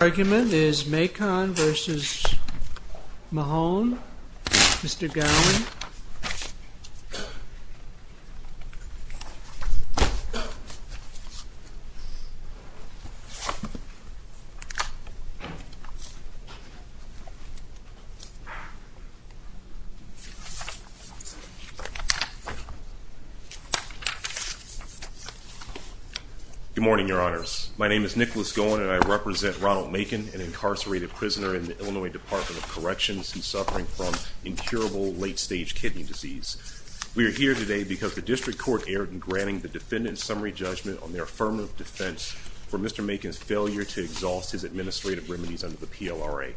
Your argument is Macon v. Mahone. Mr. Garland. Good morning, Your Honors. My name is Nicholas Goen and I represent Ronald Macon, an incarcerated We are here today because the District Court erred in granting the defendant's summary judgment on their affirmative defense for Mr. Macon's failure to exhaust his administrative remedies under the PLRA.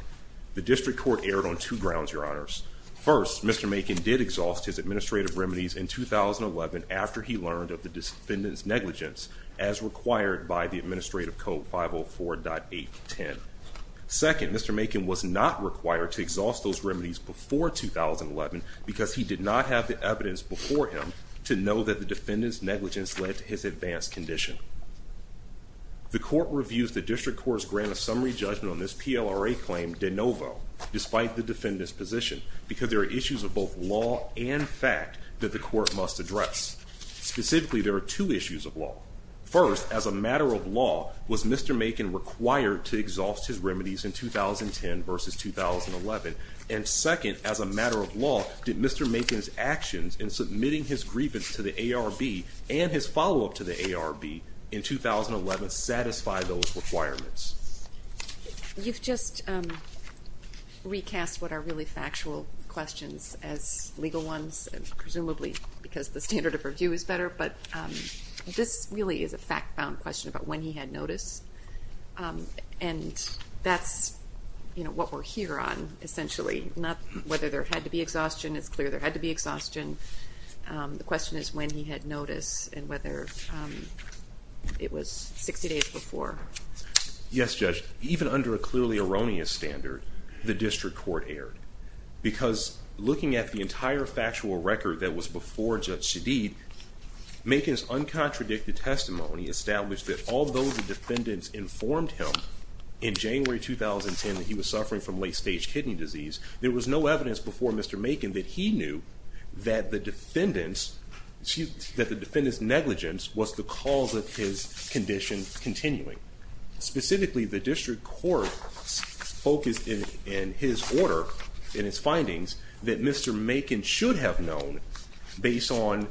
The District Court erred on two grounds, Your Honors. First, Mr. Macon did exhaust his administrative remedies in 2011 after he learned of the defendant's negligence as required by the Administrative Code 504.810. Second, Mr. Macon was not required to exhaust those remedies before 2011 because he did not have the evidence before him to know that the defendant's negligence led to his advanced condition. The Court reviews the District Court's grant of summary judgment on this PLRA claim de novo, despite the defendant's position, because there are issues of both law and fact that the Court must address. Specifically, there are two issues of law. First, as a matter of law, was Mr. Macon required to exhaust his remedies in 2010 v. 2011? And second, as a matter of law, did Mr. Macon's actions in submitting his grievance to the ARB and his follow-up to the ARB in 2011 satisfy those requirements? You've just recast what are really factual questions as legal ones, presumably because the standard of review is better. But this really is a fact-bound question about when he had notice, and that's what we're here on, essentially, not whether there had to be exhaustion. It's clear there had to be exhaustion. The question is when he had notice and whether it was 60 days before. Yes, Judge. Even under a clearly erroneous standard, the District Court erred. Because looking at the entire factual record that was before Judge Siddiq, Macon's uncontradicted testimony established that although the defendants informed him in January 2010 that he was suffering from late-stage kidney disease, there was no evidence before Mr. Macon that he knew that the defendant's negligence was the cause of his condition continuing. Specifically, the District Court focused in his order, in his findings, that Mr. Macon should have known based on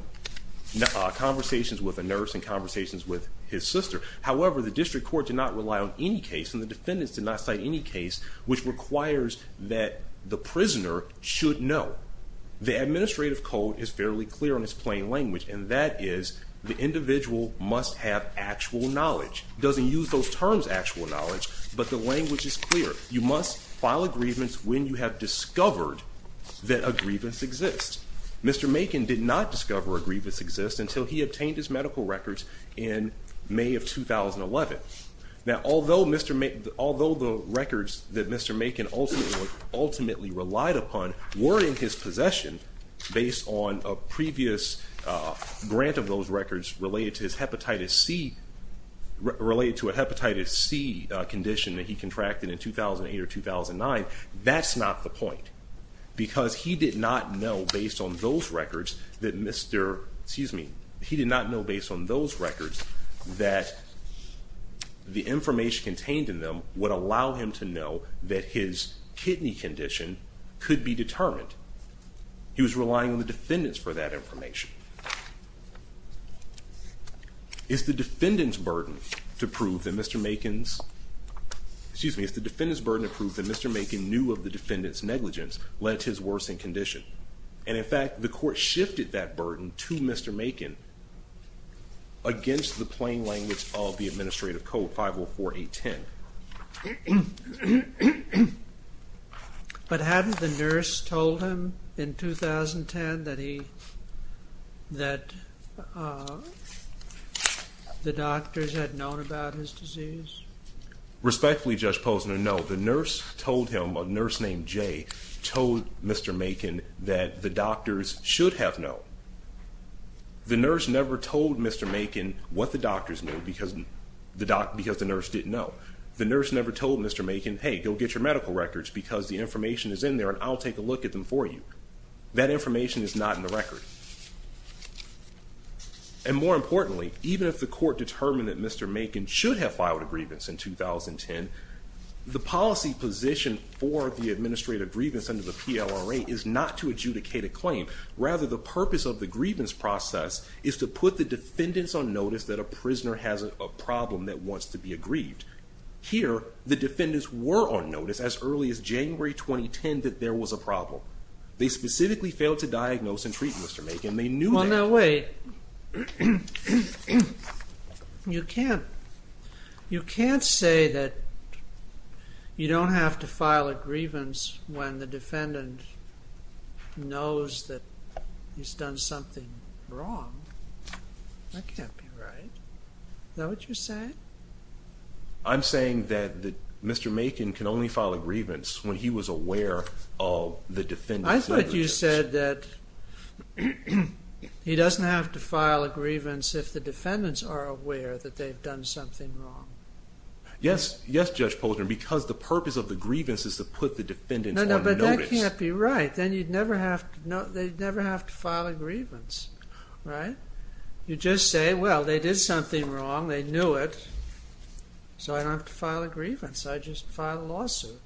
conversations with a nurse and conversations with his sister. However, the District Court did not rely on any case, and the defendants did not cite any case, which requires that the prisoner should know. The administrative code is fairly clear in its plain language, and that is the individual must have actual knowledge. It doesn't use those terms, actual knowledge, but the language is clear. You must file a grievance when you have discovered that a grievance exists. Mr. Macon did not discover a grievance exists until he obtained his medical records in May of 2011. Now, although the records that Mr. Macon ultimately relied upon were in his possession based on a previous grant of those records related to a hepatitis C condition that he contracted in 2008 or 2009, that's not the point, because he did not know based on those records that the information contained in them would allow him to know that his kidney condition could be determined. He was relying on the defendants for that information. It's the defendants' burden to prove that Mr. Macon knew of the defendants' negligence led to his worsening condition. And in fact, the court shifted that burden to Mr. Macon against the plain language of the administrative code 504810. But hadn't the nurse told him in 2010 that the doctors had known about his disease? Respectfully, Judge Posner, no. The nurse told him, a nurse named Jay, told Mr. Macon that the doctors should have known. The nurse never told Mr. Macon what the doctors knew because the nurse didn't know. The nurse never told Mr. Macon, hey, go get your medical records because the information is in there and I'll take a look at them for you. That information is not in the record. And more importantly, even if the court determined that Mr. Macon should have filed a grievance in 2010, the policy position for the administrative grievance under the PLRA is not to adjudicate a claim. Rather, the purpose of the grievance process is to put the defendants on notice that a prisoner has a problem that wants to be aggrieved. Here, the defendants were on notice as early as January 2010 that there was a problem. They specifically failed to diagnose and treat Mr. Macon. Well, now wait. You can't say that you don't have to file a grievance when the defendant knows that he's done something wrong. That can't be right. Is that what you're saying? I'm saying that Mr. Macon can only file a grievance when he was aware of the defendant's negligence. I thought you said that he doesn't have to file a grievance if the defendants are aware that they've done something wrong. Yes, Judge Poldren, because the purpose of the grievance is to put the defendants on notice. No, but that can't be right. Then they'd never have to file a grievance, right? You just say, well, they did something wrong. They knew it, so I don't have to file a grievance. I just file a lawsuit.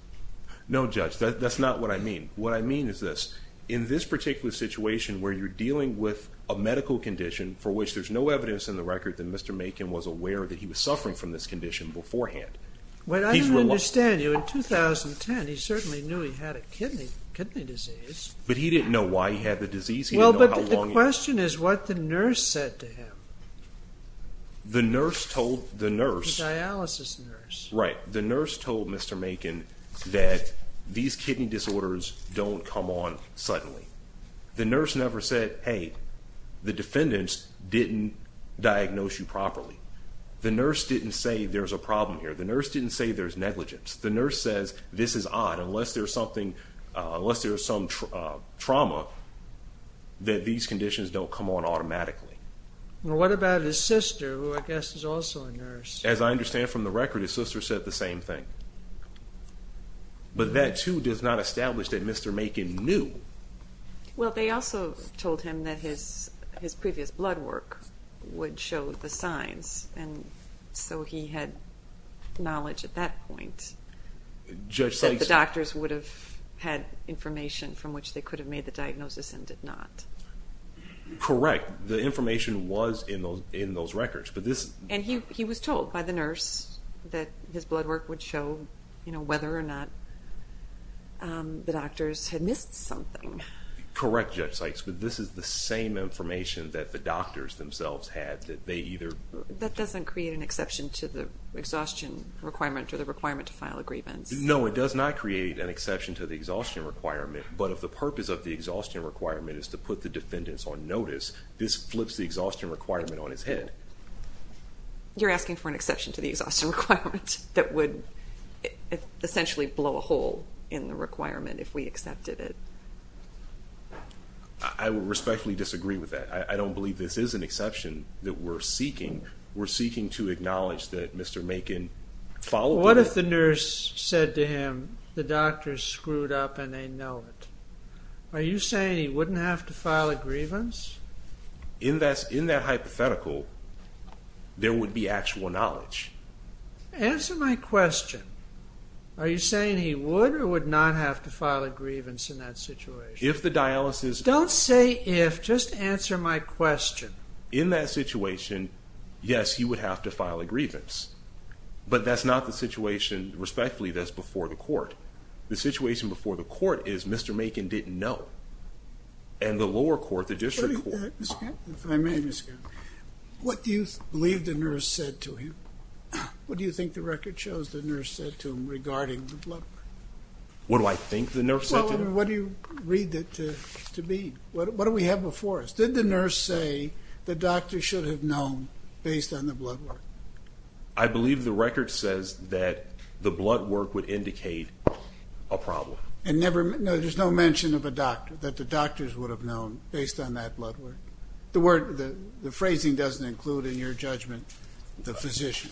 No, Judge, that's not what I mean. What I mean is this. In this particular situation where you're dealing with a medical condition for which there's no evidence in the record that Mr. Macon was aware that he was suffering from this condition beforehand. Well, I don't understand you. In 2010, he certainly knew he had a kidney disease. But he didn't know why he had the disease. Well, but the question is what the nurse said to him. The nurse told the nurse. The dialysis nurse. Right. The nurse told Mr. Macon that these kidney disorders don't come on suddenly. The nurse never said, hey, the defendants didn't diagnose you properly. The nurse didn't say there's a problem here. The nurse didn't say there's negligence. The nurse says this is odd. Unless there's something, unless there's some trauma, that these conditions don't come on automatically. Well, what about his sister, who I guess is also a nurse? As I understand from the record, his sister said the same thing. But that, too, does not establish that Mr. Macon knew. Well, they also told him that his previous blood work would show the signs. And so he had knowledge at that point that the doctors would have had information from which they could have made the diagnosis and did not. Correct. The information was in those records. And he was told by the nurse that his blood work would show whether or not the doctors had missed something. Correct, Judge Sykes, but this is the same information that the doctors themselves had. That doesn't create an exception to the exhaustion requirement or the requirement to file a grievance. No, it does not create an exception to the exhaustion requirement. But if the purpose of the exhaustion requirement is to put the defendants on notice, this flips the exhaustion requirement on its head. You're asking for an exception to the exhaustion requirement that would essentially blow a hole in the requirement if we accepted it. I would respectfully disagree with that. I don't believe this is an exception that we're seeking. We're seeking to acknowledge that Mr. Macon followed it. Are you saying he wouldn't have to file a grievance? In that hypothetical, there would be actual knowledge. Answer my question. Are you saying he would or would not have to file a grievance in that situation? If the dialysis... Don't say if, just answer my question. In that situation, yes, he would have to file a grievance. But that's not the situation, respectfully, that's before the court. The situation before the court is Mr. Macon didn't know. And the lower court, the district court... If I may, Mr. Gaffney, what do you believe the nurse said to him? What do you think the record shows the nurse said to him regarding the blood work? What do I think the nurse said to him? Well, what do you read that to mean? What do we have before us? Did the nurse say the doctor should have known based on the blood work? I believe the record says that the blood work would indicate a problem. No, there's no mention of a doctor, that the doctors would have known based on that blood work. The phrasing doesn't include, in your judgment, the physician.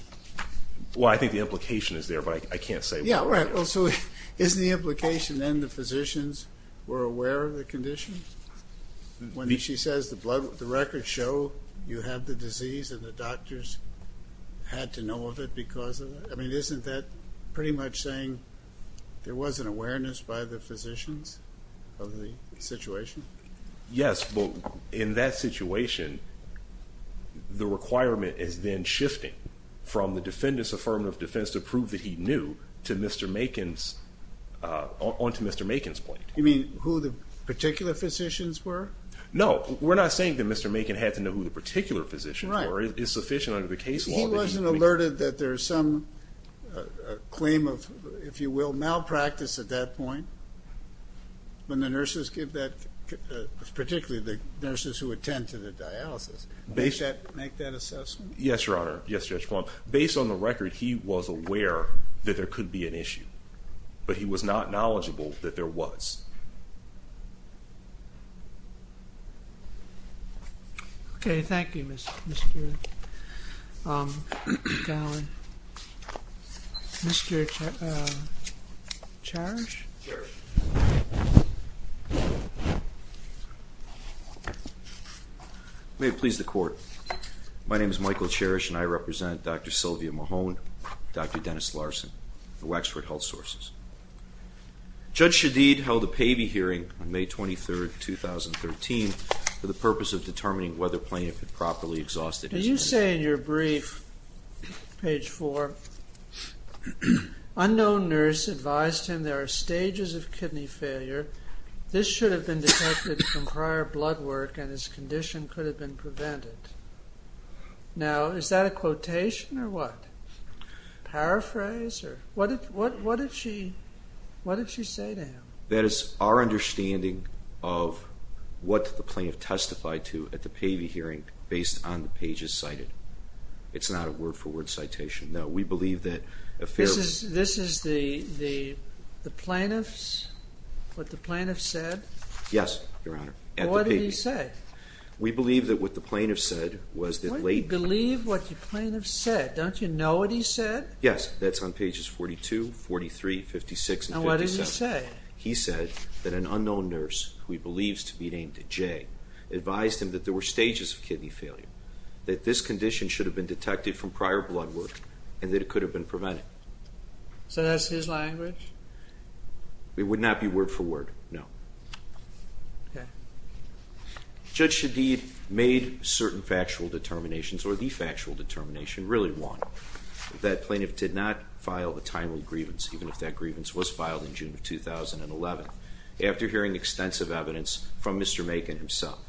Well, I think the implication is there, but I can't say. Yeah, right. So isn't the implication then the physicians were aware of the condition? When she says the records show you have the disease and the doctors had to know of it because of it? I mean, isn't that pretty much saying there was an awareness by the physicians of the situation? Yes, but in that situation, the requirement is then shifting from the defendant's affirmative defense to prove that he knew to Mr. Macon's, onto Mr. Macon's plate. You mean who the particular physicians were? No, we're not saying that Mr. Macon had to know who the particular physicians were. Right. It's sufficient under the case law. He wasn't alerted that there's some claim of, if you will, malpractice at that point, when the nurses give that, particularly the nurses who attend to the dialysis. Does that make that assessment? Yes, Your Honor. Yes, Judge Plumb. Based on the record, he was aware that there could be an issue, but he was not knowledgeable that there was. Okay, thank you, Mr. McAllen. Mr. Cherish? May it please the Court. My name is Michael Cherish, and I represent Dr. Sylvia Mahone, Dr. Dennis Larson, the Wexford Health Sources. Judge Shadid held a PAVI hearing on May 23, 2013, for the purpose of determining whether plaintiff had properly exhausted his... As you say in your brief, page 4, unknown nurse advised him there are stages of kidney failure. This should have been detected from prior blood work, and his condition could have been prevented. Now, is that a quotation or what? Paraphrase? What did she say to him? That it's our understanding of what the plaintiff testified to at the PAVI hearing, based on the pages cited. It's not a word-for-word citation. No, we believe that a fair... This is the plaintiff's, what the plaintiff said? Yes, Your Honor, at the PAVI. What did he say? We believe that what the plaintiff said was that late... Why do you believe what the plaintiff said? Don't you know what he said? Yes, that's on pages 42, 43, 56, and 57. And what did he say? He said that an unknown nurse, who he believes to be named Jay, advised him that there were stages of kidney failure, that this condition should have been detected from prior blood work, and that it could have been prevented. So that's his language? It would not be word-for-word, no. Okay. Judge Shadid made certain factual determinations, or the factual determination really won, that the plaintiff did not file a timely grievance, even if that grievance was filed in June of 2011, after hearing extensive evidence from Mr. Macon himself.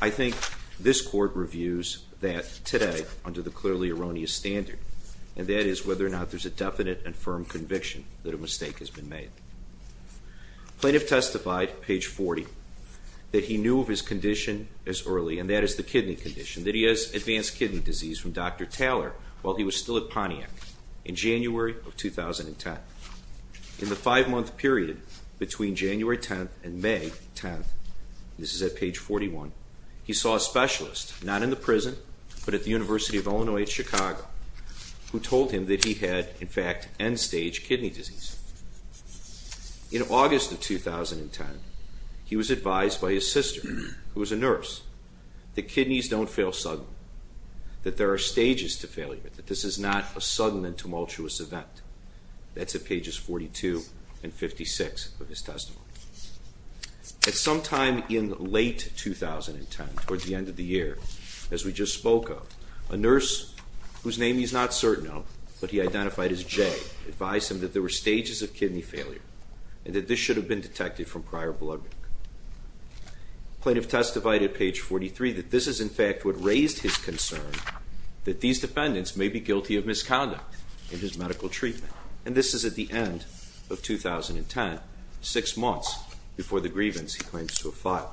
I think this Court reviews that today under the clearly erroneous standard, and that is whether or not there's a definite and firm conviction that a mistake has been made. Plaintiff testified, page 40, that he knew of his condition as early, and that is the kidney condition, that he has advanced kidney disease from Dr. Taller while he was still at Pontiac, in January of 2010. In the five-month period between January 10th and May 10th, this is at page 41, he saw a specialist, not in the prison, but at the University of Illinois at Chicago, who told him that he had, in fact, end-stage kidney disease. In August of 2010, he was advised by his sister, who was a nurse, that kidneys don't fail suddenly, that there are stages to failure, that this is not a sudden and tumultuous event. That's at pages 42 and 56 of his testimony. At some time in late 2010, towards the end of the year, as we just spoke of, a nurse, whose name he's not certain of, but he identified as Jay, advised him that there were stages of kidney failure, and that this should have been detected from prior blood work. Plaintiff testified at page 43 that this is, in fact, what raised his concern, that these defendants may be guilty of misconduct in his medical treatment. And this is at the end of 2010, six months before the grievance he claims to have filed.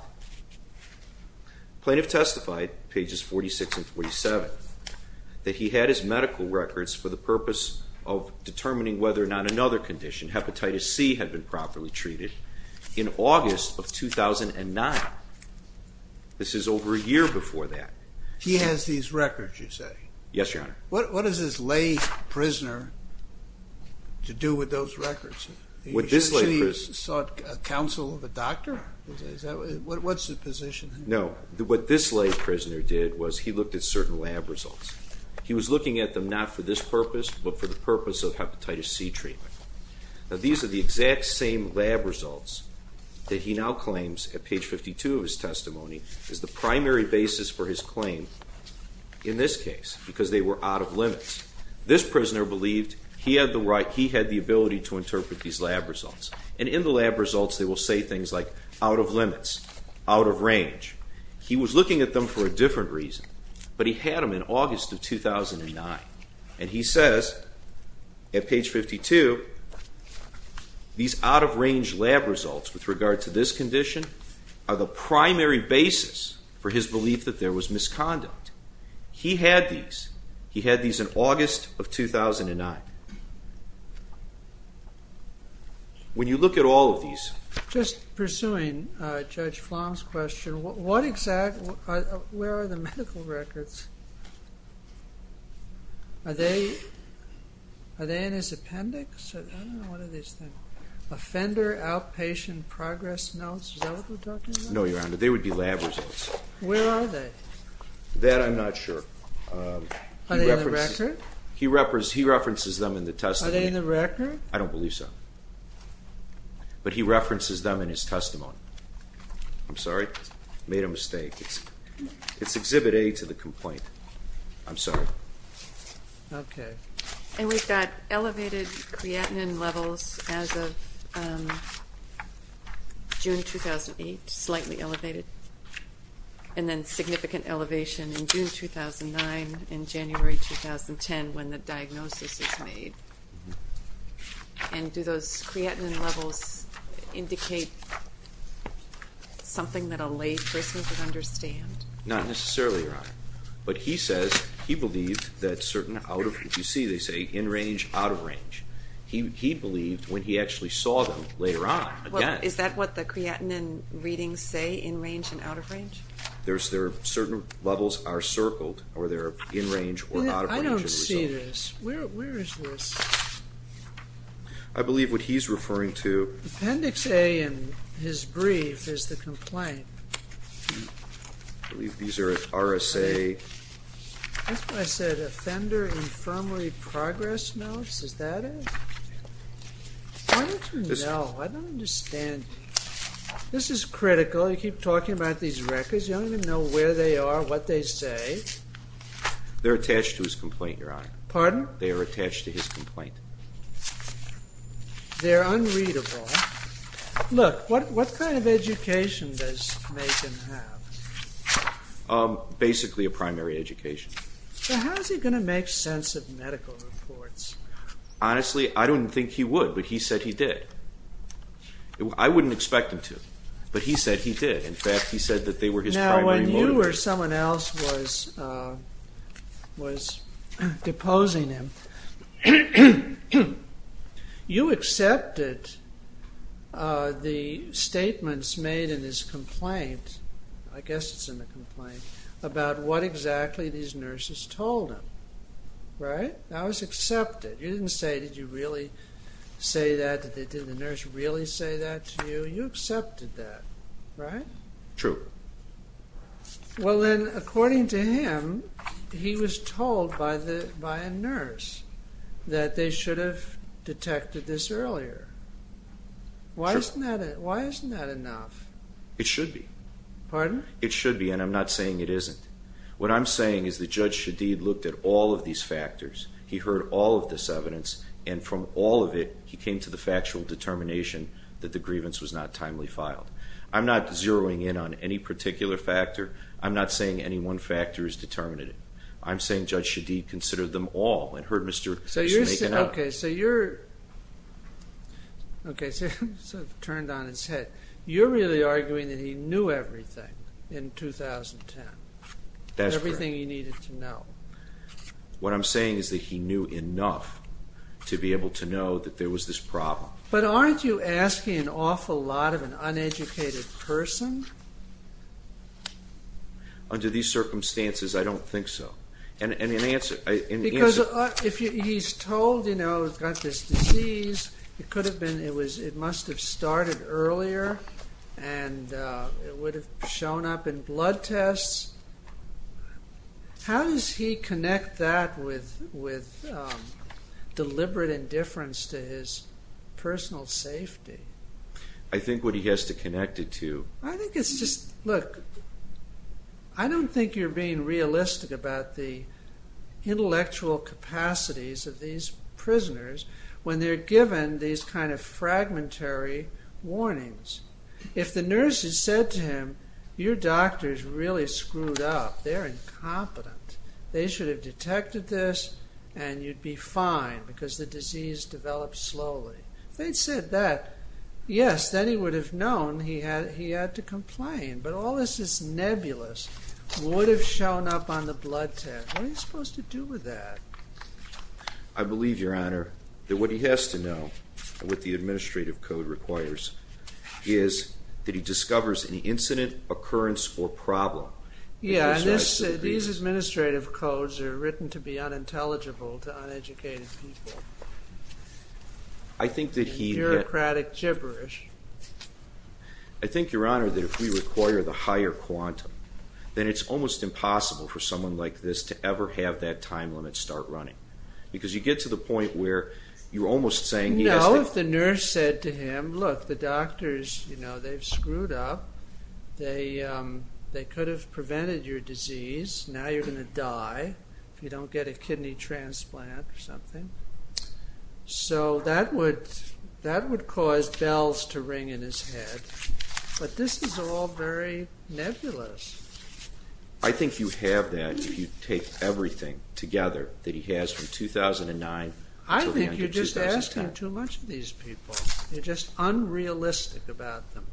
Plaintiff testified, pages 46 and 47, that he had his medical records for the purpose of determining whether or not another condition, hepatitis C, had been properly treated in August of 2009. This is over a year before that. He has these records, you say? Yes, Your Honor. What does this lay prisoner have to do with those records? He should have sought counsel of a doctor? What's his position? No. What this lay prisoner did was he looked at certain lab results. He was looking at them not for this purpose, but for the purpose of hepatitis C treatment. These are the exact same lab results that he now claims, at page 52 of his testimony, is the primary basis for his claim in this case, because they were out of limits. This prisoner believed he had the ability to interpret these lab results. And in the lab results they will say things like, out of limits, out of range. He was looking at them for a different reason, but he had them in August of 2009. And he says, at page 52, these out-of-range lab results with regard to this condition are the primary basis for his belief that there was misconduct. He had these. He had these in August of 2009. When you look at all of these. Just pursuing Judge Flom's question, where are the medical records? Are they in his appendix? I don't know. What are these things? Offender outpatient progress notes. Is that what we're talking about? No, Your Honor. They would be lab results. Where are they? That I'm not sure. Are they in the record? He references them in the testimony. Are they in the record? I don't believe so. But he references them in his testimony. I'm sorry. Made a mistake. It's Exhibit A to the complaint. I'm sorry. Okay. And we've got elevated creatinine levels as of June 2008, slightly elevated. And then significant elevation in June 2009 and January 2010 when the diagnosis is made. And do those creatinine levels indicate something that a lay person could understand? Not necessarily, Your Honor. But he says he believed that certain out of range. You see, they say in range, out of range. He believed when he actually saw them later on. Is that what the creatinine readings say, in range and out of range? There are certain levels are circled or they're in range or out of range. I don't see this. Where is this? I believe what he's referring to. Appendix A in his brief is the complaint. I believe these are RSA. That's what I said, offender infirmary progress notes. Is that it? I don't know. I don't understand. This is critical. You keep talking about these records. You don't even know where they are, what they say. They're attached to his complaint, Your Honor. Pardon? They are attached to his complaint. They're unreadable. Look, what kind of education does Macon have? Basically a primary education. So how is he going to make sense of medical reports? Honestly, I don't think he would, but he said he did. I wouldn't expect him to, but he said he did. In fact, he said that they were his primary motive. When you or someone else was deposing him, you accepted the statements made in his complaint, I guess it's in the complaint, about what exactly these nurses told him, right? That was accepted. You didn't say, did you really say that? Did the nurse really say that to you? You accepted that, right? True. Well then, according to him, he was told by a nurse that they should have detected this earlier. True. Why isn't that enough? It should be. Pardon? It should be, and I'm not saying it isn't. What I'm saying is that Judge Shadid looked at all of these factors. He heard all of this evidence, and from all of it, he came to the factual determination that the grievance was not timely filed. I'm not zeroing in on any particular factor. I'm not saying any one factor is determinative. I'm saying Judge Shadid considered them all and heard Mr. Makin out. Okay, so you're sort of turned on its head. You're really arguing that he knew everything in 2010. That's correct. Everything he needed to know. What I'm saying is that he knew enough to be able to know that there was this problem. But aren't you asking an awful lot of an uneducated person? Under these circumstances, I don't think so. Because he's told, you know, he's got this disease. It must have started earlier, and it would have shown up in blood tests. How does he connect that with deliberate indifference to his personal safety? I think what he has to connect it to. I think it's just, look, I don't think you're being realistic about the intellectual capacities of these prisoners when they're given these kind of fragmentary warnings. If the nurses said to him, your doctors really screwed up, they're incompetent. They should have detected this and you'd be fine because the disease developed slowly. If they'd said that, yes, then he would have known he had to complain. But all this nebulous would have shown up on the blood test. What are you supposed to do with that? I believe, Your Honor, that what he has to know, what the administrative code requires, is that he discovers any incident, occurrence, or problem. Yeah, and these administrative codes are written to be unintelligible to uneducated people. I think that he... Bureaucratic gibberish. I think, Your Honor, that if we require the higher quantum, then it's almost impossible for someone like this to ever have that time limit start running. Because you get to the point where you're almost saying... No, if the nurse said to him, look, the doctors, you know, they've screwed up. They could have prevented your disease. Now you're going to die if you don't get a kidney transplant or something. So that would cause bells to ring in his head. But this is all very nebulous. I think you have that if you take everything together that he has from 2009 until the end of 2010. I think you're just asking too much of these people. You're just unrealistic about them.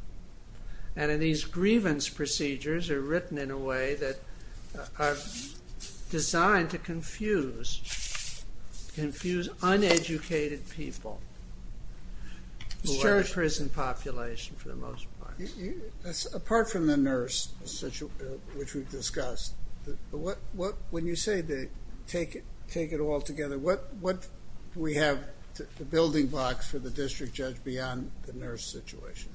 And these grievance procedures are written in a way that are designed to confuse, confuse uneducated people who are the prison population for the most part. Apart from the nurse, which we've discussed, when you say take it all together, what do we have, the building blocks for the district judge beyond the nurse situation?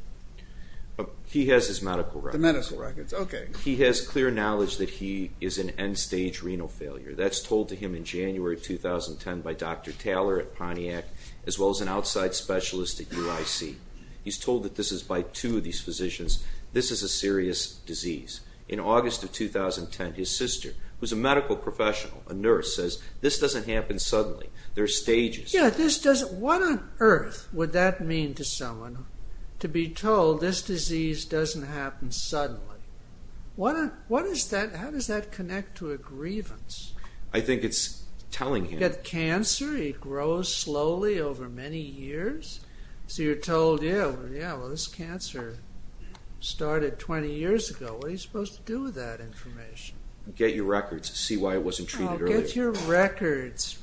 He has his medical records. The medical records, okay. He has clear knowledge that he is an end-stage renal failure. That's told to him in January 2010 by Dr. Taller at Pontiac, as well as an outside specialist at UIC. He's told that this is by two of these physicians. This is a serious disease. In August of 2010, his sister, who's a medical professional, a nurse, says this doesn't happen suddenly. There are stages. What on earth would that mean to someone to be told this disease doesn't happen suddenly? How does that connect to a grievance? I think it's telling him. You get cancer. It grows slowly over many years. So you're told, yeah, well, this cancer started 20 years ago. What are you supposed to do with that information? Get your records. See why it wasn't treated earlier. Oh, get your records.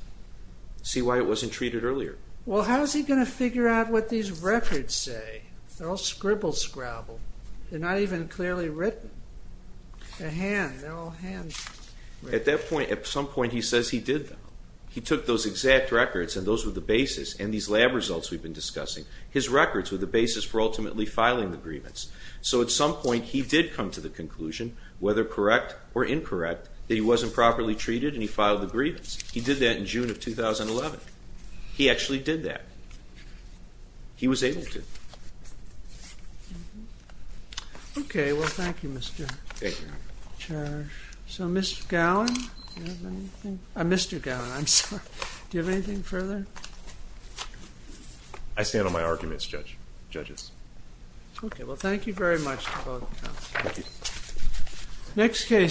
See why it wasn't treated earlier. Well, how is he going to figure out what these records say? They're all scribble-scrabble. They're not even clearly written. They're all handwritten. At some point, he says he did them. He took those exact records, and those were the basis, and these lab results we've been discussing. His records were the basis for ultimately filing the grievance. So at some point, he did come to the conclusion, whether correct or incorrect, that he wasn't properly treated, and he filed the grievance. He did that in June of 2011. He actually did that. He was able to. Okay, well, thank you, Mr. Charge. So Mr. Gowan, do you have anything? Mr. Gowan, I'm sorry. Do you have anything further? I stand on my arguments, judges. Okay, well, thank you very much to both counsels. Thank you.